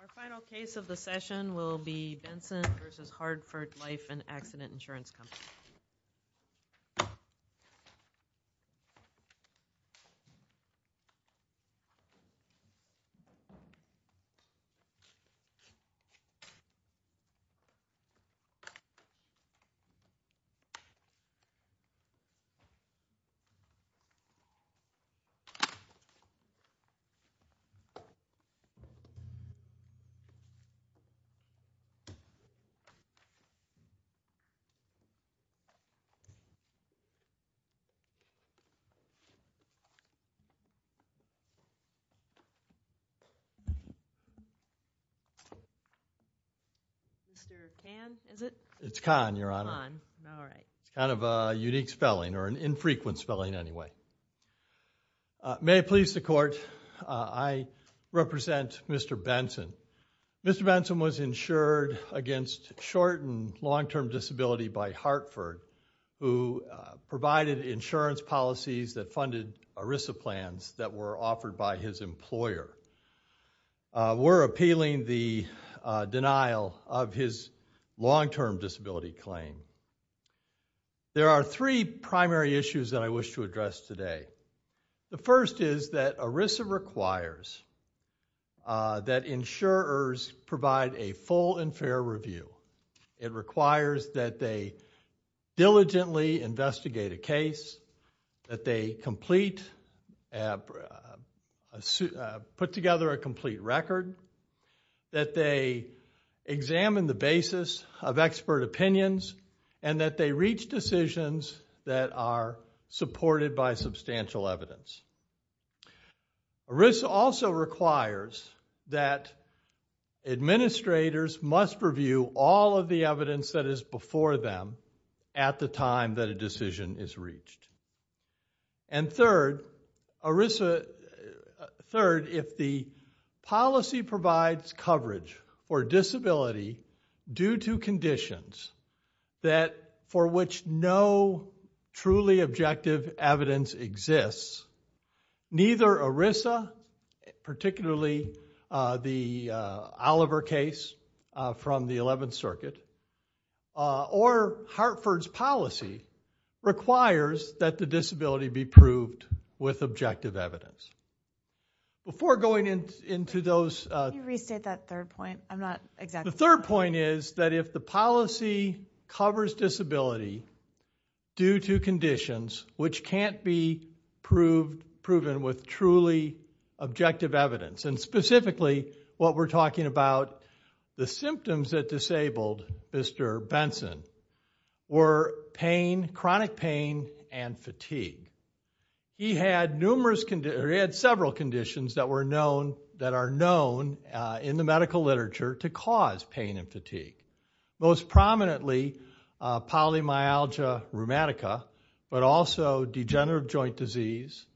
Our final case of the session will be Benson v. Hartford Life and Accident Insurance Company. Mr. Khan, is it? It's Khan, Your Honor. Khan, all right. Kind of a unique spelling, or an infrequent spelling anyway. May it please the Court, I represent Mr. Benson. Mr. Benson was insured against short and long-term disability by Hartford, who provided insurance policies that funded ERISA plans that were offered by his employer. We're appealing the denial of his long-term disability claim. There are three primary issues that I wish to address today. The first is that ERISA requires that insurers provide a full and fair review. It requires that they diligently investigate a case, that they put together a complete record, that they examine the basis of expert opinions, and that they reach decisions that are supported by substantial evidence. ERISA also requires that administrators must review all of the evidence that is before them at the time that a decision is reached. Third, if the policy provides coverage for disability due to conditions for which no truly objective evidence exists, neither ERISA, particularly the Oliver case from the 11th Circuit, or Hartford's policy requires that the disability be proved with objective evidence. Before going into those... Can you restate that third point? I'm not exactly... The third point is that if the policy covers disability due to conditions which can't be proven with truly objective evidence, and specifically what we're talking about, the symptoms that disabled Mr. Benson were pain, chronic pain, and fatigue. He had several conditions that are known in the medical literature to cause pain and fatigue. Most prominently, polymyalgia rheumatica, but also degenerative joint disease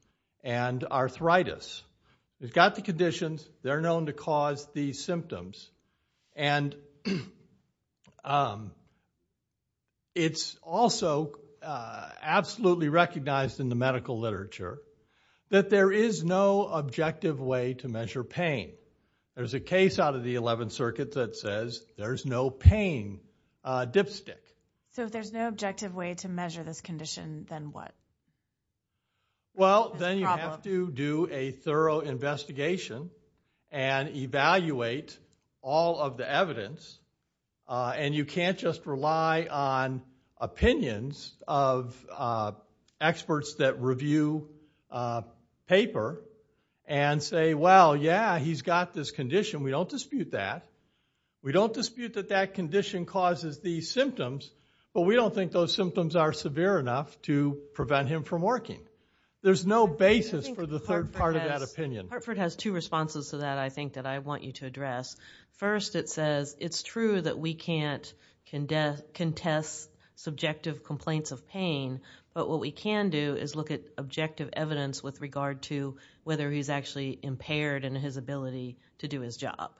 and arthritis. We've got the conditions, they're known to cause these symptoms, and it's also absolutely recognized in the medical literature that there is no objective way to measure pain. There's a case out of the 11th Circuit that says there's no pain dipstick. So if there's no objective way to measure this condition, then what? Well, then you have to do a thorough investigation and evaluate all of the evidence, and you can't just rely on opinions of experts that review paper and say, well, yeah, he's got this condition. We don't dispute that. We don't dispute that that condition causes these symptoms, but we don't think those symptoms are severe enough to prevent him from working. There's no basis for the third part of that opinion. Hartford has two responses to that, I think, that I want you to address. First, it says it's true that we can't contest subjective complaints of pain, but what we can do is look at objective evidence with regard to whether he's actually impaired in his ability to do his job.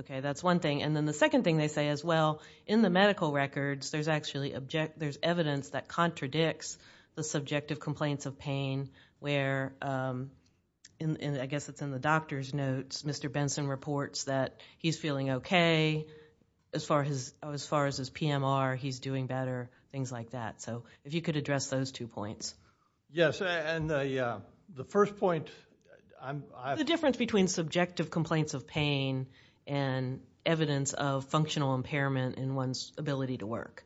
Okay, that's one thing. And then the second thing they say is, well, in the medical records, there's evidence that contradicts the subjective complaints of pain where, I guess it's in the doctor's notes, Mr. Benson reports that he's feeling okay. As far as his PMR, he's doing better, things like that. So if you could address those two points. Yes, and the first point... The difference between subjective complaints of pain and evidence of functional impairment in one's ability to work.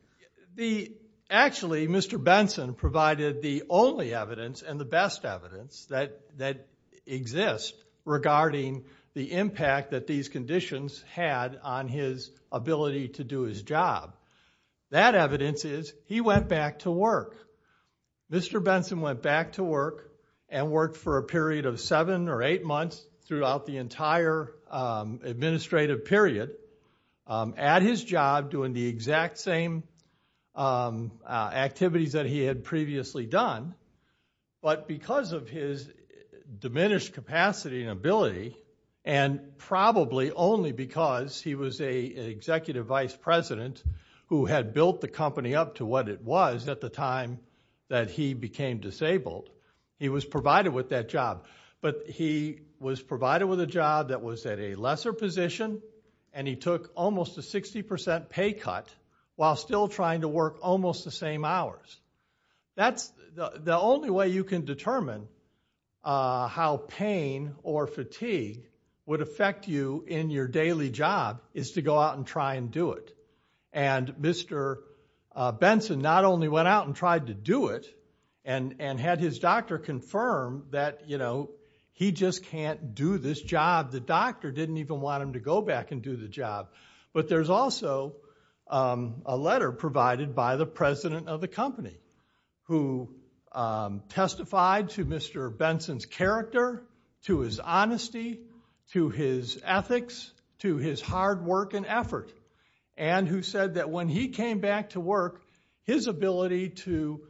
Actually, Mr. Benson provided the only evidence and the best evidence that exists regarding the impact that these conditions had on his ability to do his job. That evidence is he went back to work. Mr. Benson went back to work and worked for a period of seven or eight months throughout the entire administrative period at his job doing the exact same activities that he had previously done, but because of his diminished capacity and ability, and probably only because he was an executive vice president who had built the company up to what it was at the time that he became disabled, he was provided with that job. But he was provided with a job that was at a lesser position and he took almost a 60% pay cut while still trying to work almost the same hours. That's the only way you can determine how pain or fatigue would affect you in your daily job is to go out and try and do it. And Mr. Benson not only went out and tried to do it and had his doctor confirm that he just can't do this job, the doctor didn't even want him to go back and do the job, but there's also a letter provided by the president of the company who testified to Mr. Benson's character, to his honesty, to his ethics, to his hard work and effort, and who said that when he came back to work, his ability to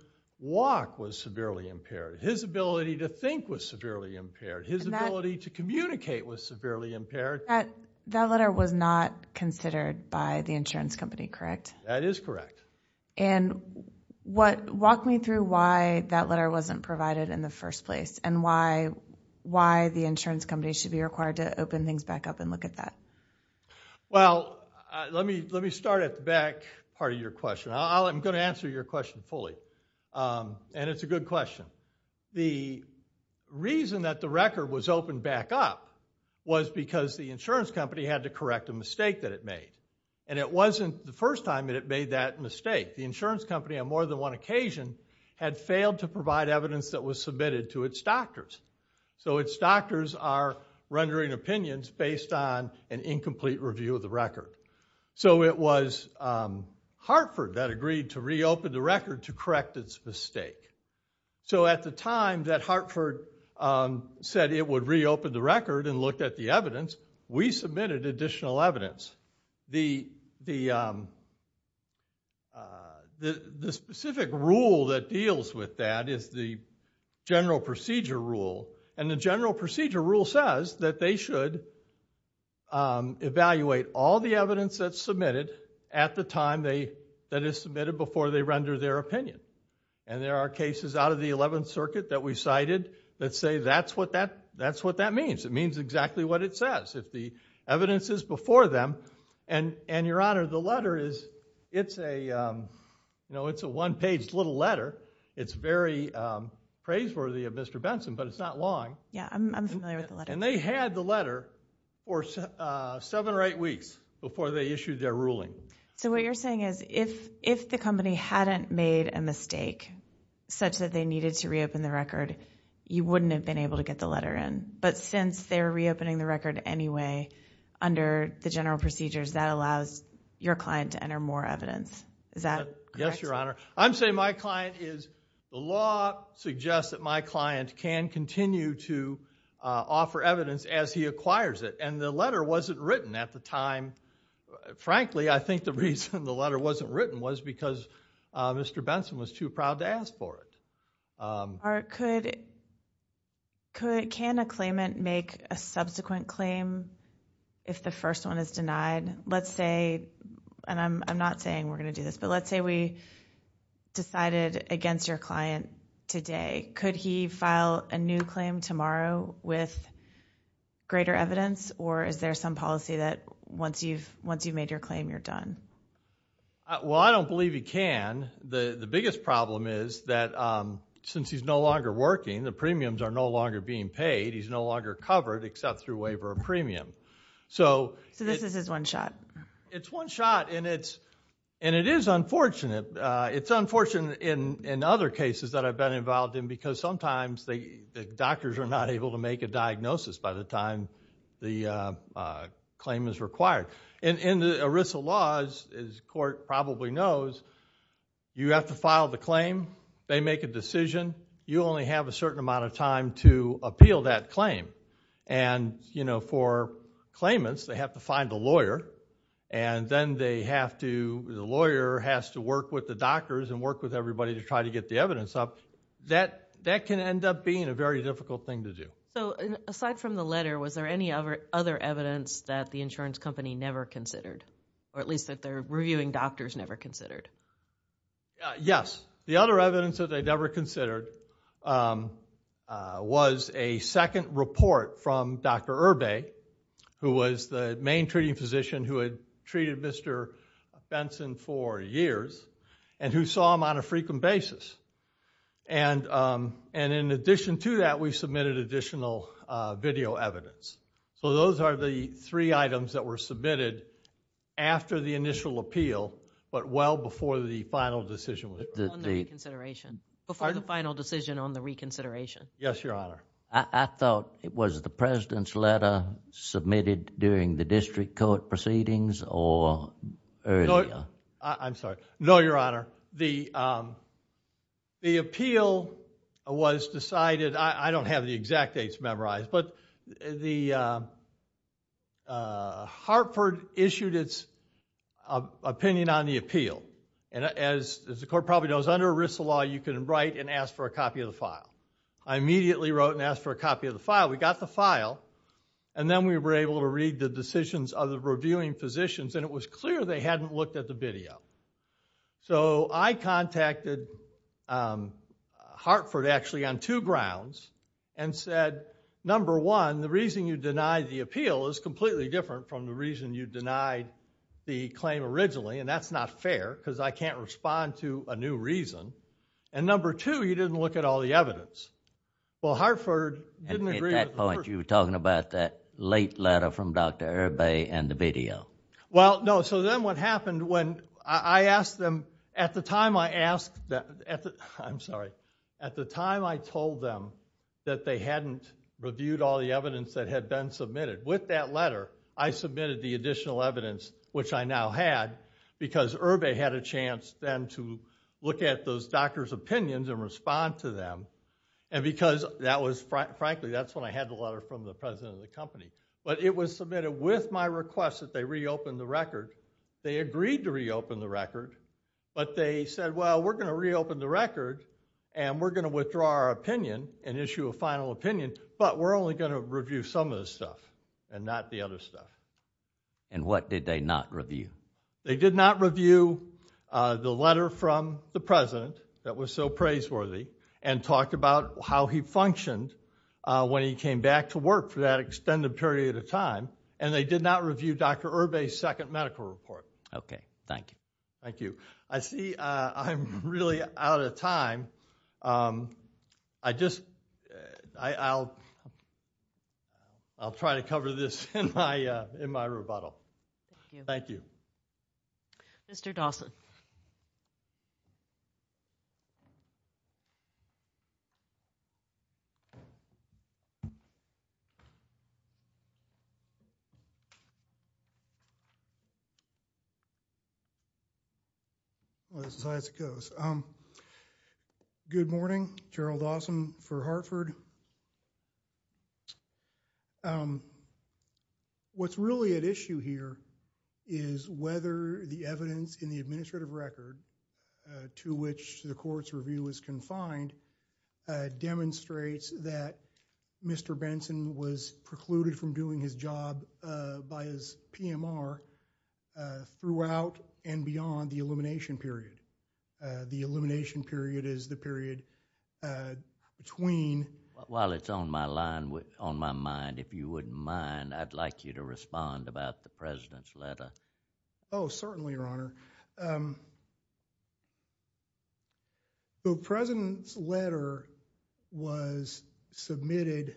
walk was severely impaired, his ability to think was severely impaired, his ability to communicate was severely impaired. That letter was not considered by the insurance company, correct? That is correct. And walk me through why that letter wasn't provided in the first place and why the insurance company should be required to open things back up and look at that. Well, let me start at the back part of your question. I'm going to answer your question fully, and it's a good question. The reason that the record was opened back up was because the insurance company had to correct a mistake that it made, and it wasn't the first time that it made that mistake. The insurance company, on more than one occasion, had failed to provide evidence that was submitted to its doctors, so its doctors are rendering opinions based on an incomplete review of the record. So it was Hartford that agreed to reopen the record to correct its mistake. So at the time that Hartford said it would reopen the record and look at the evidence, we submitted additional evidence. The specific rule that deals with that is the general procedure rule, and the general procedure rule says that they should evaluate all the evidence that's submitted at the time that it's submitted before they render their opinion. And there are cases out of the 11th Circuit that we cited that say that's what that means. It means exactly what it says. If the evidence is before them. And, Your Honor, the letter is a one-page little letter. It's very praiseworthy of Mr. Benson, but it's not long. Yeah, I'm familiar with the letter. And they had the letter for seven or eight weeks before they issued their ruling. So what you're saying is if the company hadn't made a mistake such that they needed to reopen the record, you wouldn't have been able to get the letter in. But since they're reopening the record anyway under the general procedures, that allows your client to enter more evidence. Is that correct? Yes, Your Honor. I'm saying my client is, the law suggests that my client can continue to offer evidence as he acquires it. And the letter wasn't written at the time. Frankly, I think the reason the letter wasn't written was because Mr. Benson was too proud to ask for it. Mark, can a claimant make a subsequent claim if the first one is denied? Let's say, and I'm not saying we're going to do this, but let's say we decided against your client today. Could he file a new claim tomorrow with greater evidence, or is there some policy that once you've made your claim, you're done? Well, I don't believe he can. The biggest problem is that since he's no longer working, the premiums are no longer being paid. He's no longer covered except through waiver of premium. So this is his one shot. It's one shot. And it is unfortunate. It's unfortunate in other cases that I've been involved in because sometimes the doctors are not able to make a diagnosis by the time the claim is required. In the ERISA laws, as the court probably knows, you have to file the claim. They make a decision. You only have a certain amount of time to appeal that claim. And for claimants, they have to find a lawyer. And then the lawyer has to work with the doctors and work with everybody to try to get the evidence up. That can end up being a very difficult thing to do. So aside from the letter, was there any other evidence that the insurance company never considered, or at least that their reviewing doctors never considered? Yes. The other evidence that they never considered was a second report from Dr. Irbay, who was the main treating physician who had treated Mr. Benson for years and who saw him on a frequent basis. And in addition to that, we submitted additional video evidence. So those are the three items that were submitted after the initial appeal, but well before the final decision. On the reconsideration. Before the final decision on the reconsideration. Yes, Your Honor. I thought it was the president's letter submitted during the district court proceedings or earlier. I'm sorry. No, Your Honor. The appeal was decided, I don't have the exact dates memorized, but Hartford issued its opinion on the appeal. And as the court probably knows, under ERISA law, you can write and ask for a copy of the file. I immediately wrote and asked for a copy of the file. We got the file, and then we were able to read the decisions of the reviewing physicians, and it was clear they hadn't looked at the video. So I contacted Hartford, actually, on two grounds and said, number one, the reason you denied the appeal is completely different from the reason you denied the claim originally, and that's not fair, because I can't respond to a new reason. And number two, you didn't look at all the evidence. Well, Hartford didn't agree with the first. At that point, you were talking about that late letter from Dr. Irby and the video. Well, no. So then what happened when I asked them, at the time I asked that they hadn't reviewed all the evidence that had been submitted. With that letter, I submitted the additional evidence, which I now had, because Irby had a chance then to look at those doctors' opinions and respond to them. And because that was, frankly, that's when I had the letter from the president of the company. But it was submitted with my request that they reopen the record. They agreed to reopen the record, but they said, well, we're going to reopen the record, and we're going to withdraw our opinion and issue a final opinion. But we're only going to review some of the stuff and not the other stuff. And what did they not review? They did not review the letter from the president that was so praiseworthy and talked about how he functioned when he came back to work for that extended period of time. And they did not review Dr. Irby's second medical report. OK, thank you. Thank you. I see I'm really out of time. I'll try to cover this in my rebuttal. Thank you. Mr. Dawson. Well, this is how it goes. Good morning. Gerald Dawson for Hartford. What's really at issue here is whether the evidence in the administrative record to which the court's review is confined demonstrates that Mr. Benson was precluded from doing his job by his PMR throughout and beyond the elimination period. The elimination period is the period between. While it's on my mind, if you wouldn't mind, I'd like you to respond about the president's letter. Oh, certainly, Your Honor. So the president's letter was submitted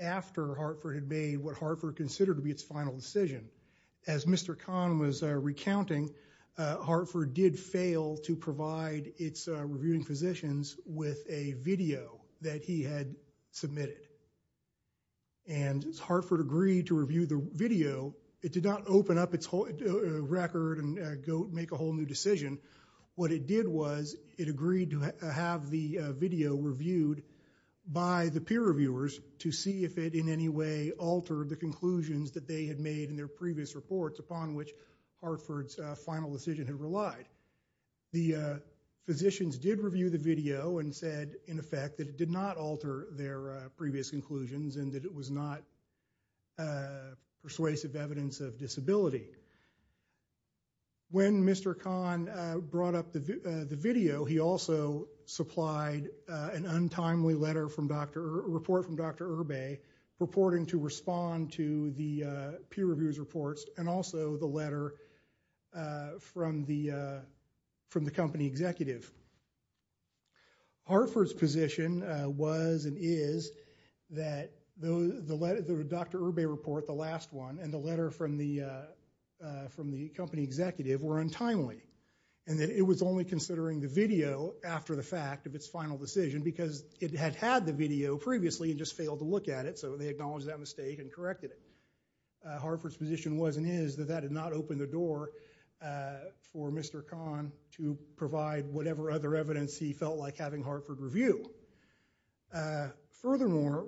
after Hartford had made what Hartford considered to be its final decision. As Mr. Kahn was recounting, Hartford did fail to provide its reviewing positions with a video that he had submitted. And Hartford agreed to review the video. It did not open up its record and go make a whole new decision. What it did was it agreed to have the video reviewed by the peer reviewers to see if it in any way altered the conclusions that they had made in their previous reports, upon which Hartford's final decision had relied. The physicians did review the video and said, in effect, that it did not alter their previous conclusions and that it was not persuasive evidence of disability. When Mr. Kahn brought up the video, he also supplied an untimely report from Dr. Urbe purporting to respond to the peer reviewers' reports and also the letter from the company executive. Hartford's position was and is that the Dr. Urbe report, the last one, and the letter from the company executive were untimely, and that it was only considering the video after the fact of its final decision because it had had the video previously and just failed to look at it. So they acknowledged that mistake and corrected it. Hartford's position was and is that that did not open the door for Mr. Kahn to provide whatever other evidence he felt like having Hartford review. Furthermore.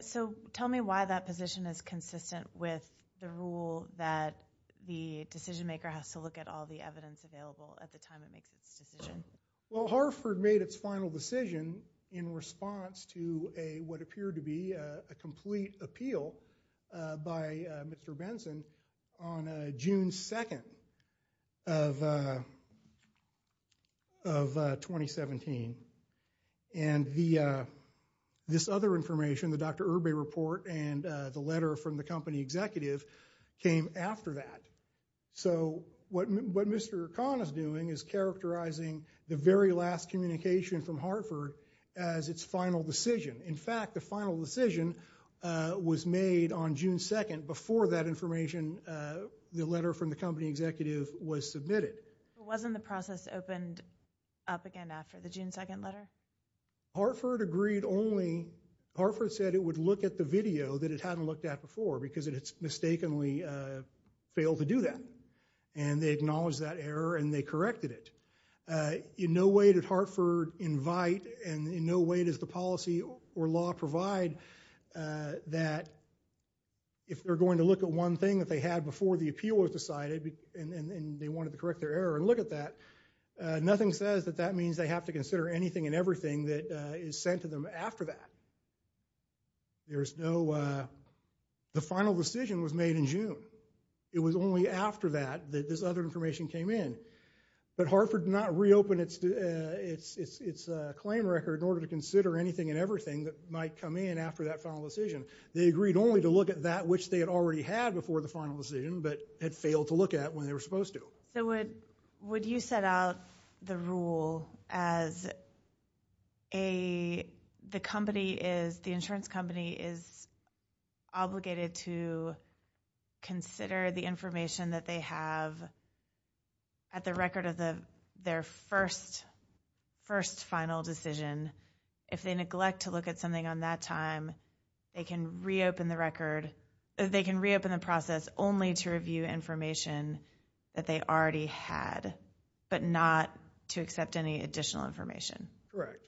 So tell me why that position is consistent with the rule that the decision maker has to look at all the evidence available at the time it makes its decision. Well, Hartford made its final decision in response to what appeared to be a complete appeal by Mr. Benson on June 2 of 2017. And this other information, the Dr. Urbe report and the letter from the company executive, came after that. So what Mr. Kahn is doing is characterizing the very last communication from Hartford as its final decision. In fact, the final decision was made on June 2 before that information, the letter from the company executive, was submitted. Wasn't the process opened up again after the June 2 letter? Hartford agreed only. Hartford said it would look at the video that it hadn't looked at before because it had mistakenly failed to do that. And they acknowledged that error and they corrected it. In no way did Hartford invite and in no way does the policy or law provide that if they're going to look at one thing that they had before the appeal was their error and look at that, nothing says that that means they have to consider anything and everything that is sent to them after that. There is no, the final decision was made in June. It was only after that that this other information came in. But Hartford did not reopen its claim record in order to consider anything and everything that might come in after that final decision. They agreed only to look at that which they had already had before the final decision but had failed to look at when they were supposed to. So would you set out the rule as the company is, the insurance company is obligated to consider the information that they have at the record of their first final decision. If they neglect to look at something on that time, they can reopen the record, they can reopen the process only to review information that they already had, but not to accept any additional information. Correct.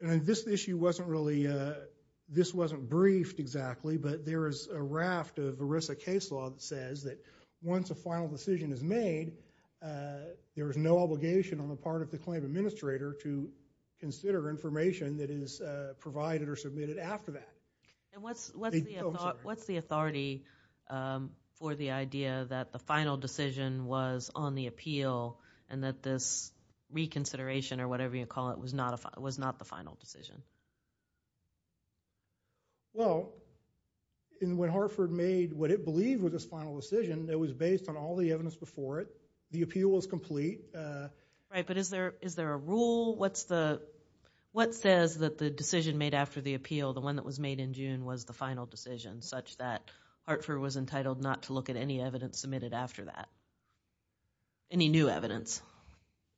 And this issue wasn't really, this wasn't briefed exactly, but there is a raft of ERISA case law that says that once a final decision is made, there is no obligation on the part of the claim administrator to consider information that is provided or submitted after that. And what's the authority for the idea that the final decision was on the appeal and that this reconsideration or whatever you call it was not the final decision? Well, when Hartford made what it believed was its final decision, it was based on all the evidence before it. The appeal was complete. Right, but is there a rule? What says that the decision made after the appeal, the one that was made in June, was the final decision, such that Hartford was entitled not to look at any evidence submitted after that? Any new evidence?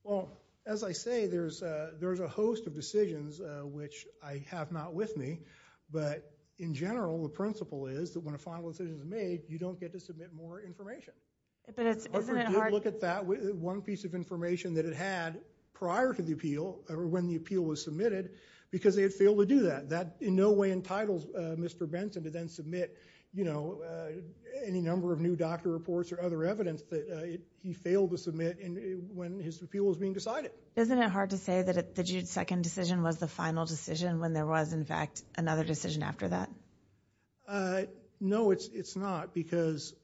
Well, as I say, there's a host of decisions which I have not with me. But in general, the principle is that when a final decision is made, you don't get to submit more information. But isn't it hard? Hartford did look at that one piece of information that it had prior to the appeal, or when the appeal was submitted, because they had failed to do that. That in no way entitled Mr. Benson to then submit any number of new doctor reports or other evidence that he failed to submit when his appeal was being decided. Isn't it hard to say that the June 2 decision was the final decision when there was, in fact, another decision after that? No, it's not. Because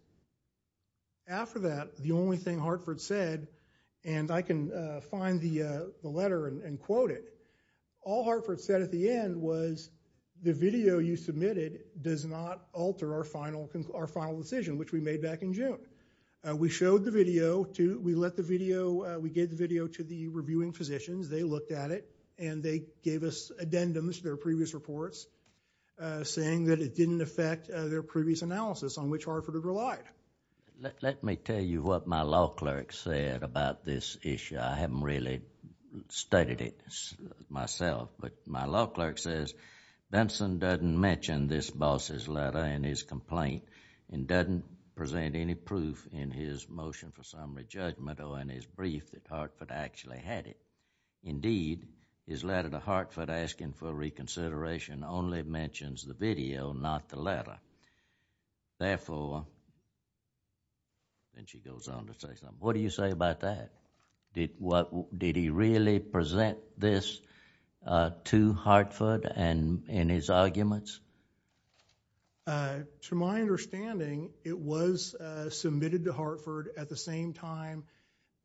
after that, the only thing Hartford said, and I can find the letter and quote it, all Hartford said at the end was, the video you submitted does not alter our final decision, which we made back in June. We showed the video. We let the video, we gave the video to the reviewing physicians. They looked at it. And they gave us addendums to their previous reports, saying that it didn't affect their previous analysis on which Hartford had relied. Let me tell you what my law clerk said about this issue. I haven't really studied it myself. But my law clerk says, Benson doesn't mention this boss's letter and his complaint and doesn't present any proof in his motion for summary judgment or in his brief that Hartford actually had it. Indeed, his letter to Hartford asking for reconsideration only mentions the video, not the letter. Therefore, and she goes on to say something, what do you say about that? Did he really present this to Hartford in his arguments? To my understanding, it was submitted to Hartford at the same time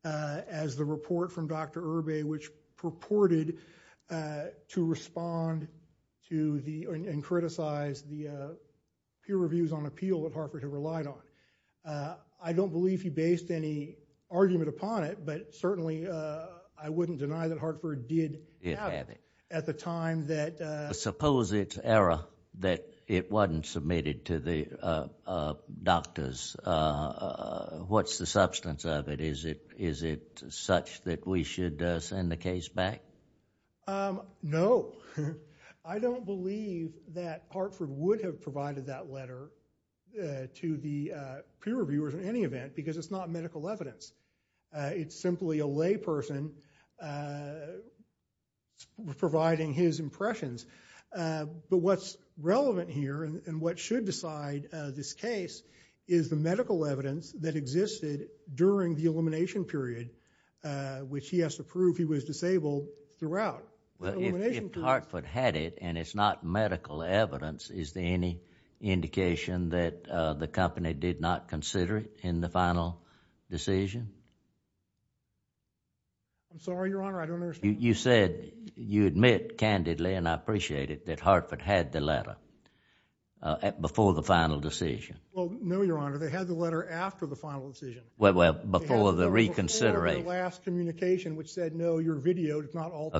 as the report from Dr. Irby, which purported to respond to and criticize the peer reviews on appeal that Hartford had relied on. I don't believe he based any argument upon it. But certainly, I wouldn't deny that Hartford did have it at the time that... Suppose it's error that it wasn't submitted to the doctors. What's the substance of it? Is it such that we should send the case back? No. I don't believe that Hartford would have provided that letter to the peer reviewers in any event because it's not medical evidence. It's simply a layperson providing his impressions. But what's relevant here and what should decide this case is the medical evidence that existed during the elimination period, which he has to prove he was disabled throughout. If Hartford had it and it's not medical evidence, is there any indication that the company did not consider it in the final decision? I'm sorry, Your Honor, I don't understand. You said you admit candidly, and I appreciate it, that Hartford had the letter before the final decision. Well, no, Your Honor. They had the letter after the final decision. Well, before the reconsideration. Before the last communication, which said, no, your video does not alter...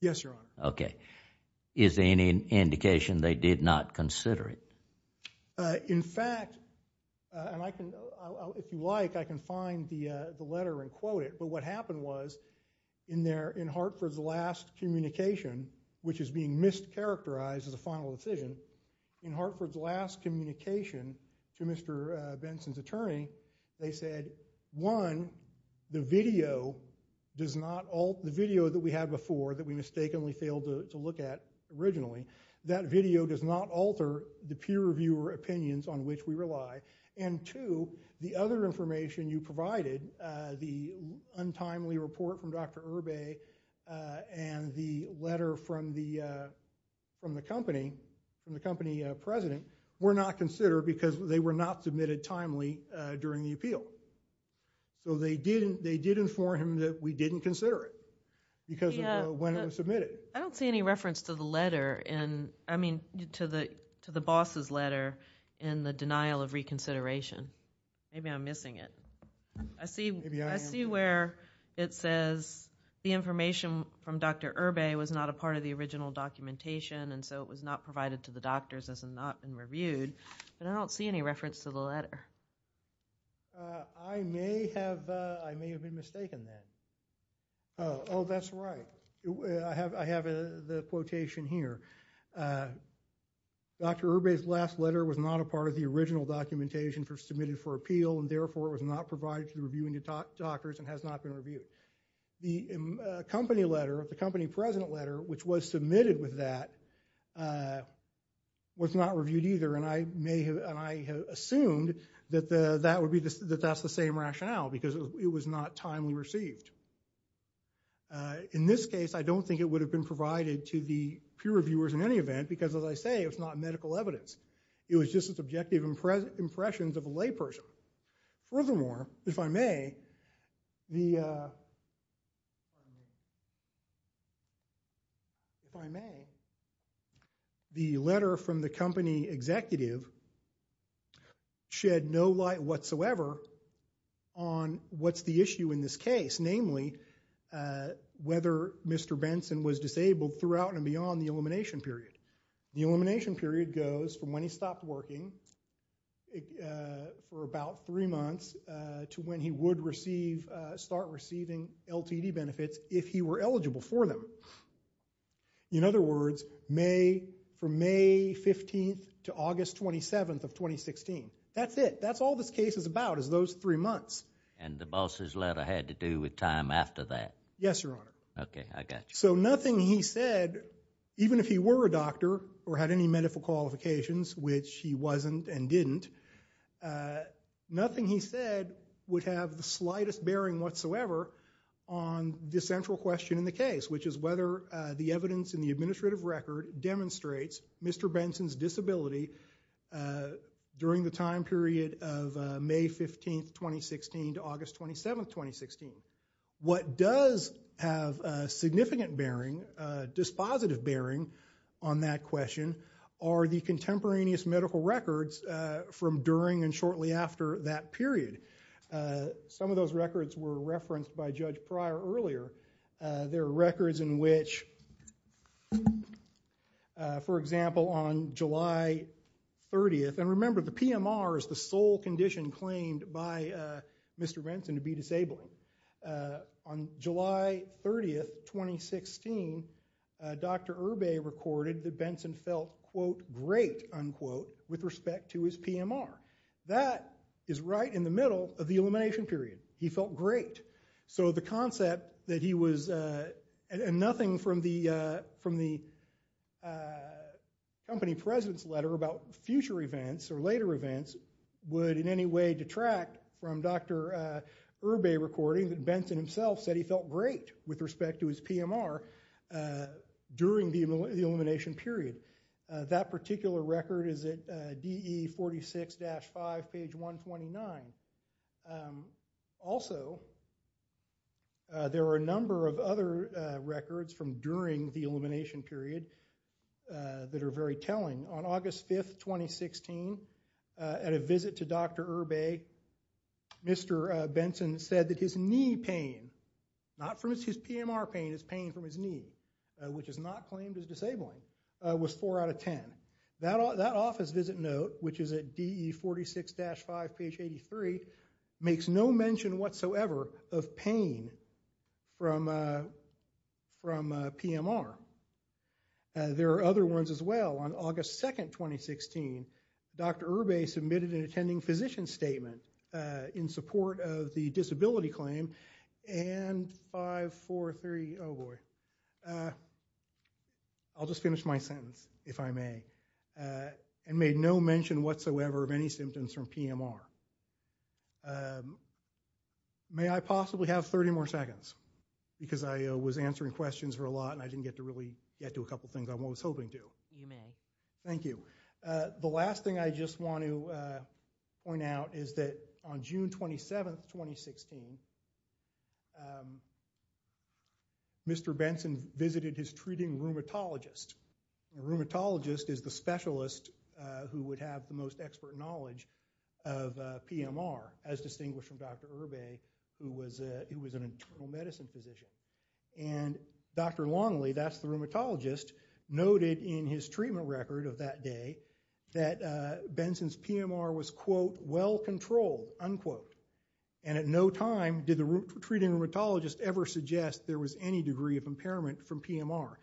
Yes, Your Honor. Okay. Is there any indication they did not consider it? In fact, and if you like, I can find the letter and quote it, but what happened was in Hartford's last communication, which is being mischaracterized as a final decision, in Hartford's last communication to Mr. Benson's attorney, they said, one, the video that we had before that we mistakenly failed to look at originally, that video does not alter the peer reviewer opinions on which we rely. And two, the other information you provided, the untimely report from Dr. Urbay and the letter from the company president, were not considered because they were not submitted timely during the appeal. So they did inform him that we didn't consider it because of when it was submitted. I don't see any reference to the letter in, I mean, to the boss's letter in the denial of reconsideration. Maybe I'm missing it. Maybe I am. I see where it says the information from Dr. Urbay was not a part of the original documentation and so it was not provided to the doctors as it had not been reviewed, but I don't see any reference to the letter. I may have been mistaken then. Oh, that's right. I have the quotation here. Dr. Urbay's last letter was not a part of the original documentation for submitted for appeal and therefore it was not provided to the reviewing doctors and has not been reviewed. The company letter, the company president letter, which was submitted with that, was not reviewed either and I assumed that that's the same rationale because it was not timely received. In this case, I don't think it would have been provided to the peer reviewers in any event because, as I say, it's not medical evidence. It was just subjective impressions of a layperson. Furthermore, if I may, the letter from the company executive shed no light whatsoever on what's the issue in this case, namely whether Mr. Benson was disabled throughout and beyond the elimination period. The elimination period goes from when he stopped working for about three months to when he would start receiving LTD benefits if he were eligible for them. In other words, from May 15th to August 27th of 2016. That's it. That's all this case is about is those three months. And the boss's letter had to do with time after that? Yes, Your Honor. Okay, I got you. So nothing he said, even if he were a doctor or had any medical qualifications, which he wasn't and didn't, nothing he said would have the slightest bearing whatsoever on the central question in the case, which is whether the evidence in the administrative record demonstrates Mr. Benson's disability during the time period of May 15th, 2016, to August 27th, 2016. What does have a significant bearing, a dispositive bearing on that question, are the contemporaneous medical records from during and shortly after that period. Some of those records were referenced by Judge Pryor earlier. There are records in which, for example, on July 30th, and remember, the PMR is the sole condition claimed by Mr. Benson to be disabled. On July 30th, 2016, Dr. Irbay recorded that Benson felt, quote, great, unquote, with respect to his PMR. That is right in the middle of the elimination period. He felt great. So the concept that he was, and nothing from the company president's letter about future events or later events would in any way detract from Dr. Irbay recording that Benson himself said he felt great with respect to his PMR during the elimination period. That particular record is at DE 46-5, page 129. Also, there are a number of other records from during the elimination period that are very telling. On August 5th, 2016, at a visit to Dr. Irbay, Mr. Benson said that his knee pain, not from his PMR pain, his pain from his knee, which is not claimed as disabling, was 4 out of 10. That office visit note, which is at DE 46-5, page 83, makes no mention whatsoever of pain from PMR. There are other ones as well. On August 2nd, 2016, Dr. Irbay submitted an attending physician statement in support of the disability claim, and 5, 4, 3, oh boy. I'll just finish my sentence, if I may. It made no mention whatsoever of any symptoms from PMR. May I possibly have 30 more seconds? Because I was answering questions for a lot, and I didn't get to really get to a couple things I was hoping to. You may. Thank you. The last thing I just want to point out is that on June 27th, 2016, Mr. Benson visited his treating rheumatologist. A rheumatologist is the specialist who would have the most expert knowledge of PMR, as distinguished from Dr. Irbay, who was an internal medicine physician. And Dr. Longley, that's the rheumatologist, noted in his treatment record of that day that Benson's PMR was, quote, well controlled, unquote. And at no time did the treating rheumatologist ever suggest there was any degree of impairment from PMR.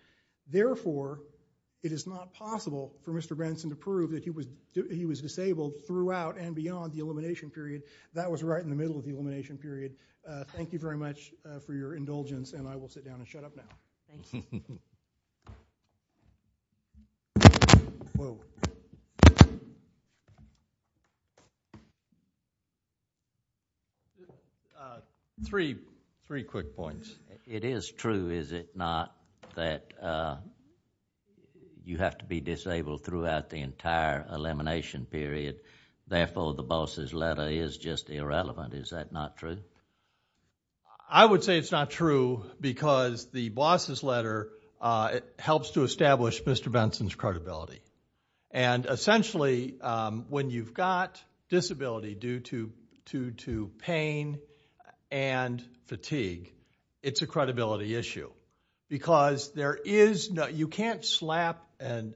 Therefore, it is not possible for Mr. Benson to prove that he was disabled throughout and beyond the elimination period. That was right in the middle of the elimination period. Thank you very much for your indulgence, and I will sit down and shut up now. Thank you. Three quick points. It is true, is it not, that you have to be disabled throughout the entire elimination period. Therefore, the boss's letter is just irrelevant. Is that not true? I would say it's not true, because the boss's letter helps to establish Mr. Benson's credibility. And essentially, when you've got disability due to pain and fatigue, it's a credibility issue. Because you can't slap an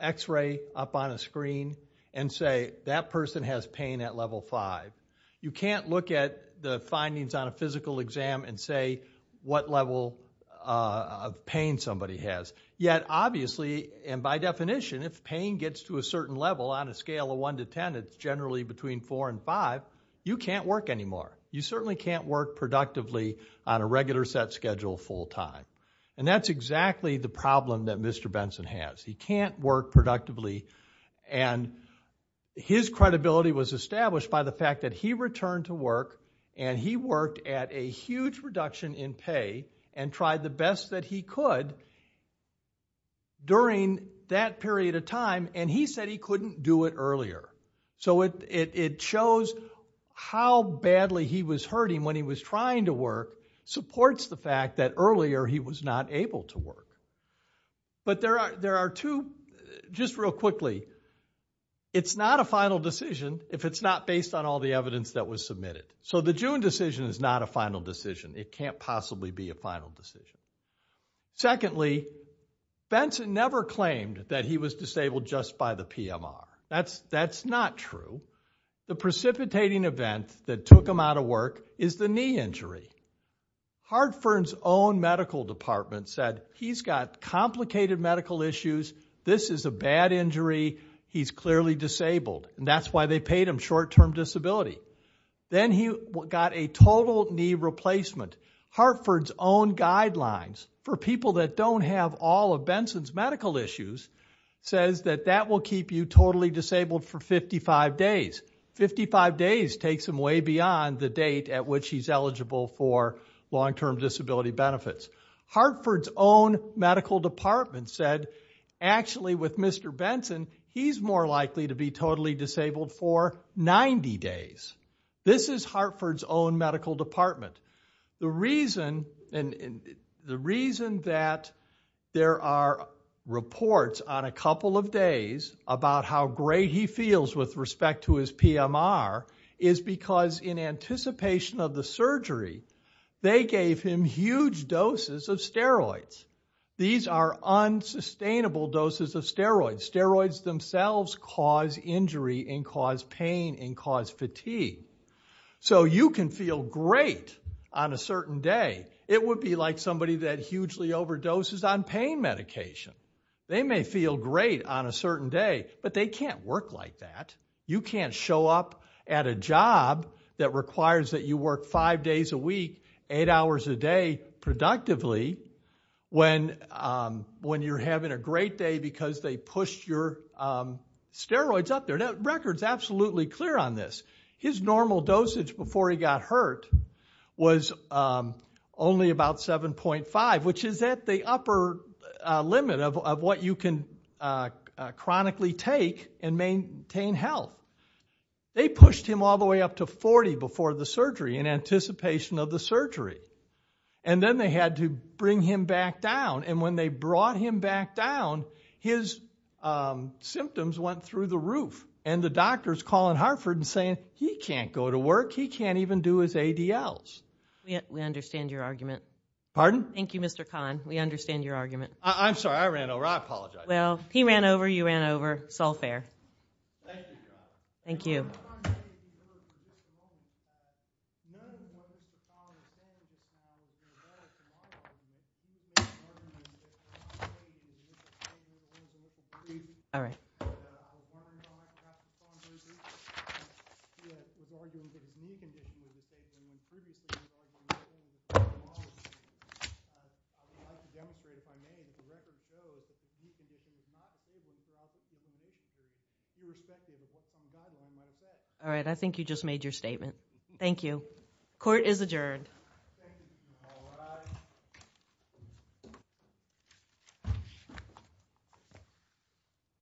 x-ray up on a screen and say, that person has pain at level five. You can't look at the findings on a physical exam and say what level of pain somebody has. Yet, obviously, and by definition, if pain gets to a certain level on a scale of one to 10, it's generally between four and five, you can't work anymore. You certainly can't work productively on a regular set schedule full time. And that's exactly the problem that Mr. Benson has. He can't work productively, and his credibility was established by the fact that he returned to work and he worked at a huge reduction in pay and tried the best that he could during that period of time, and he said he couldn't do it earlier. So it shows how badly he was hurting when he was trying to work supports the fact that earlier he was not able to work. But there are two, just real quickly, it's not a final decision if it's not based on all the evidence that was submitted. So the June decision is not a final decision. It can't possibly be a final decision. Secondly, Benson never claimed that he was disabled just by the PMR. That's not true. The precipitating event that took him out of work is the knee injury. Hartford's own medical department said, he's got complicated medical issues, this is a bad injury, he's clearly disabled, and that's why they paid him short-term disability. Then he got a total knee replacement. Hartford's own guidelines for people that don't have all of Benson's medical issues says that that will keep you totally disabled for 55 days. 55 days takes him way beyond the date at which he's eligible for long-term disability benefits. Hartford's own medical department said actually with Mr. Benson, he's more likely to be totally disabled for 90 days. This is Hartford's own medical department. The reason that there are reports on a couple of days about how great he feels with respect to his PMR is because in anticipation of the surgery, they gave him huge doses of steroids. These are unsustainable doses of steroids. Steroids themselves cause injury and cause pain and cause fatigue. So you can feel great on a certain day. It would be like somebody that hugely overdoses on pain medication. They may feel great on a certain day, but they can't work like that. You can't show up at a job that requires that you work five days a week, eight hours a day productively when you're having a great day because they pushed your steroids up there. That record's absolutely clear on this. His normal dosage before he got hurt was only about 7.5, which is at the upper limit of what you can chronically take and maintain health. They pushed him all the way up to 40 before the surgery in anticipation of the surgery. And then they had to bring him back down. And when they brought him back down, his symptoms went through the roof. And the doctor's calling Hartford and saying, he can't go to work. He can't even do his ADLs. We understand your argument. Pardon? Thank you, Mr. Kahn. We understand your argument. I'm sorry, I ran over. I apologize. Well, he ran over. You ran over. It's all fair. Thank you. Thank you. All right. All right, I think you just made your statement. Thank you. Court is adjourned. Thank you. All rise.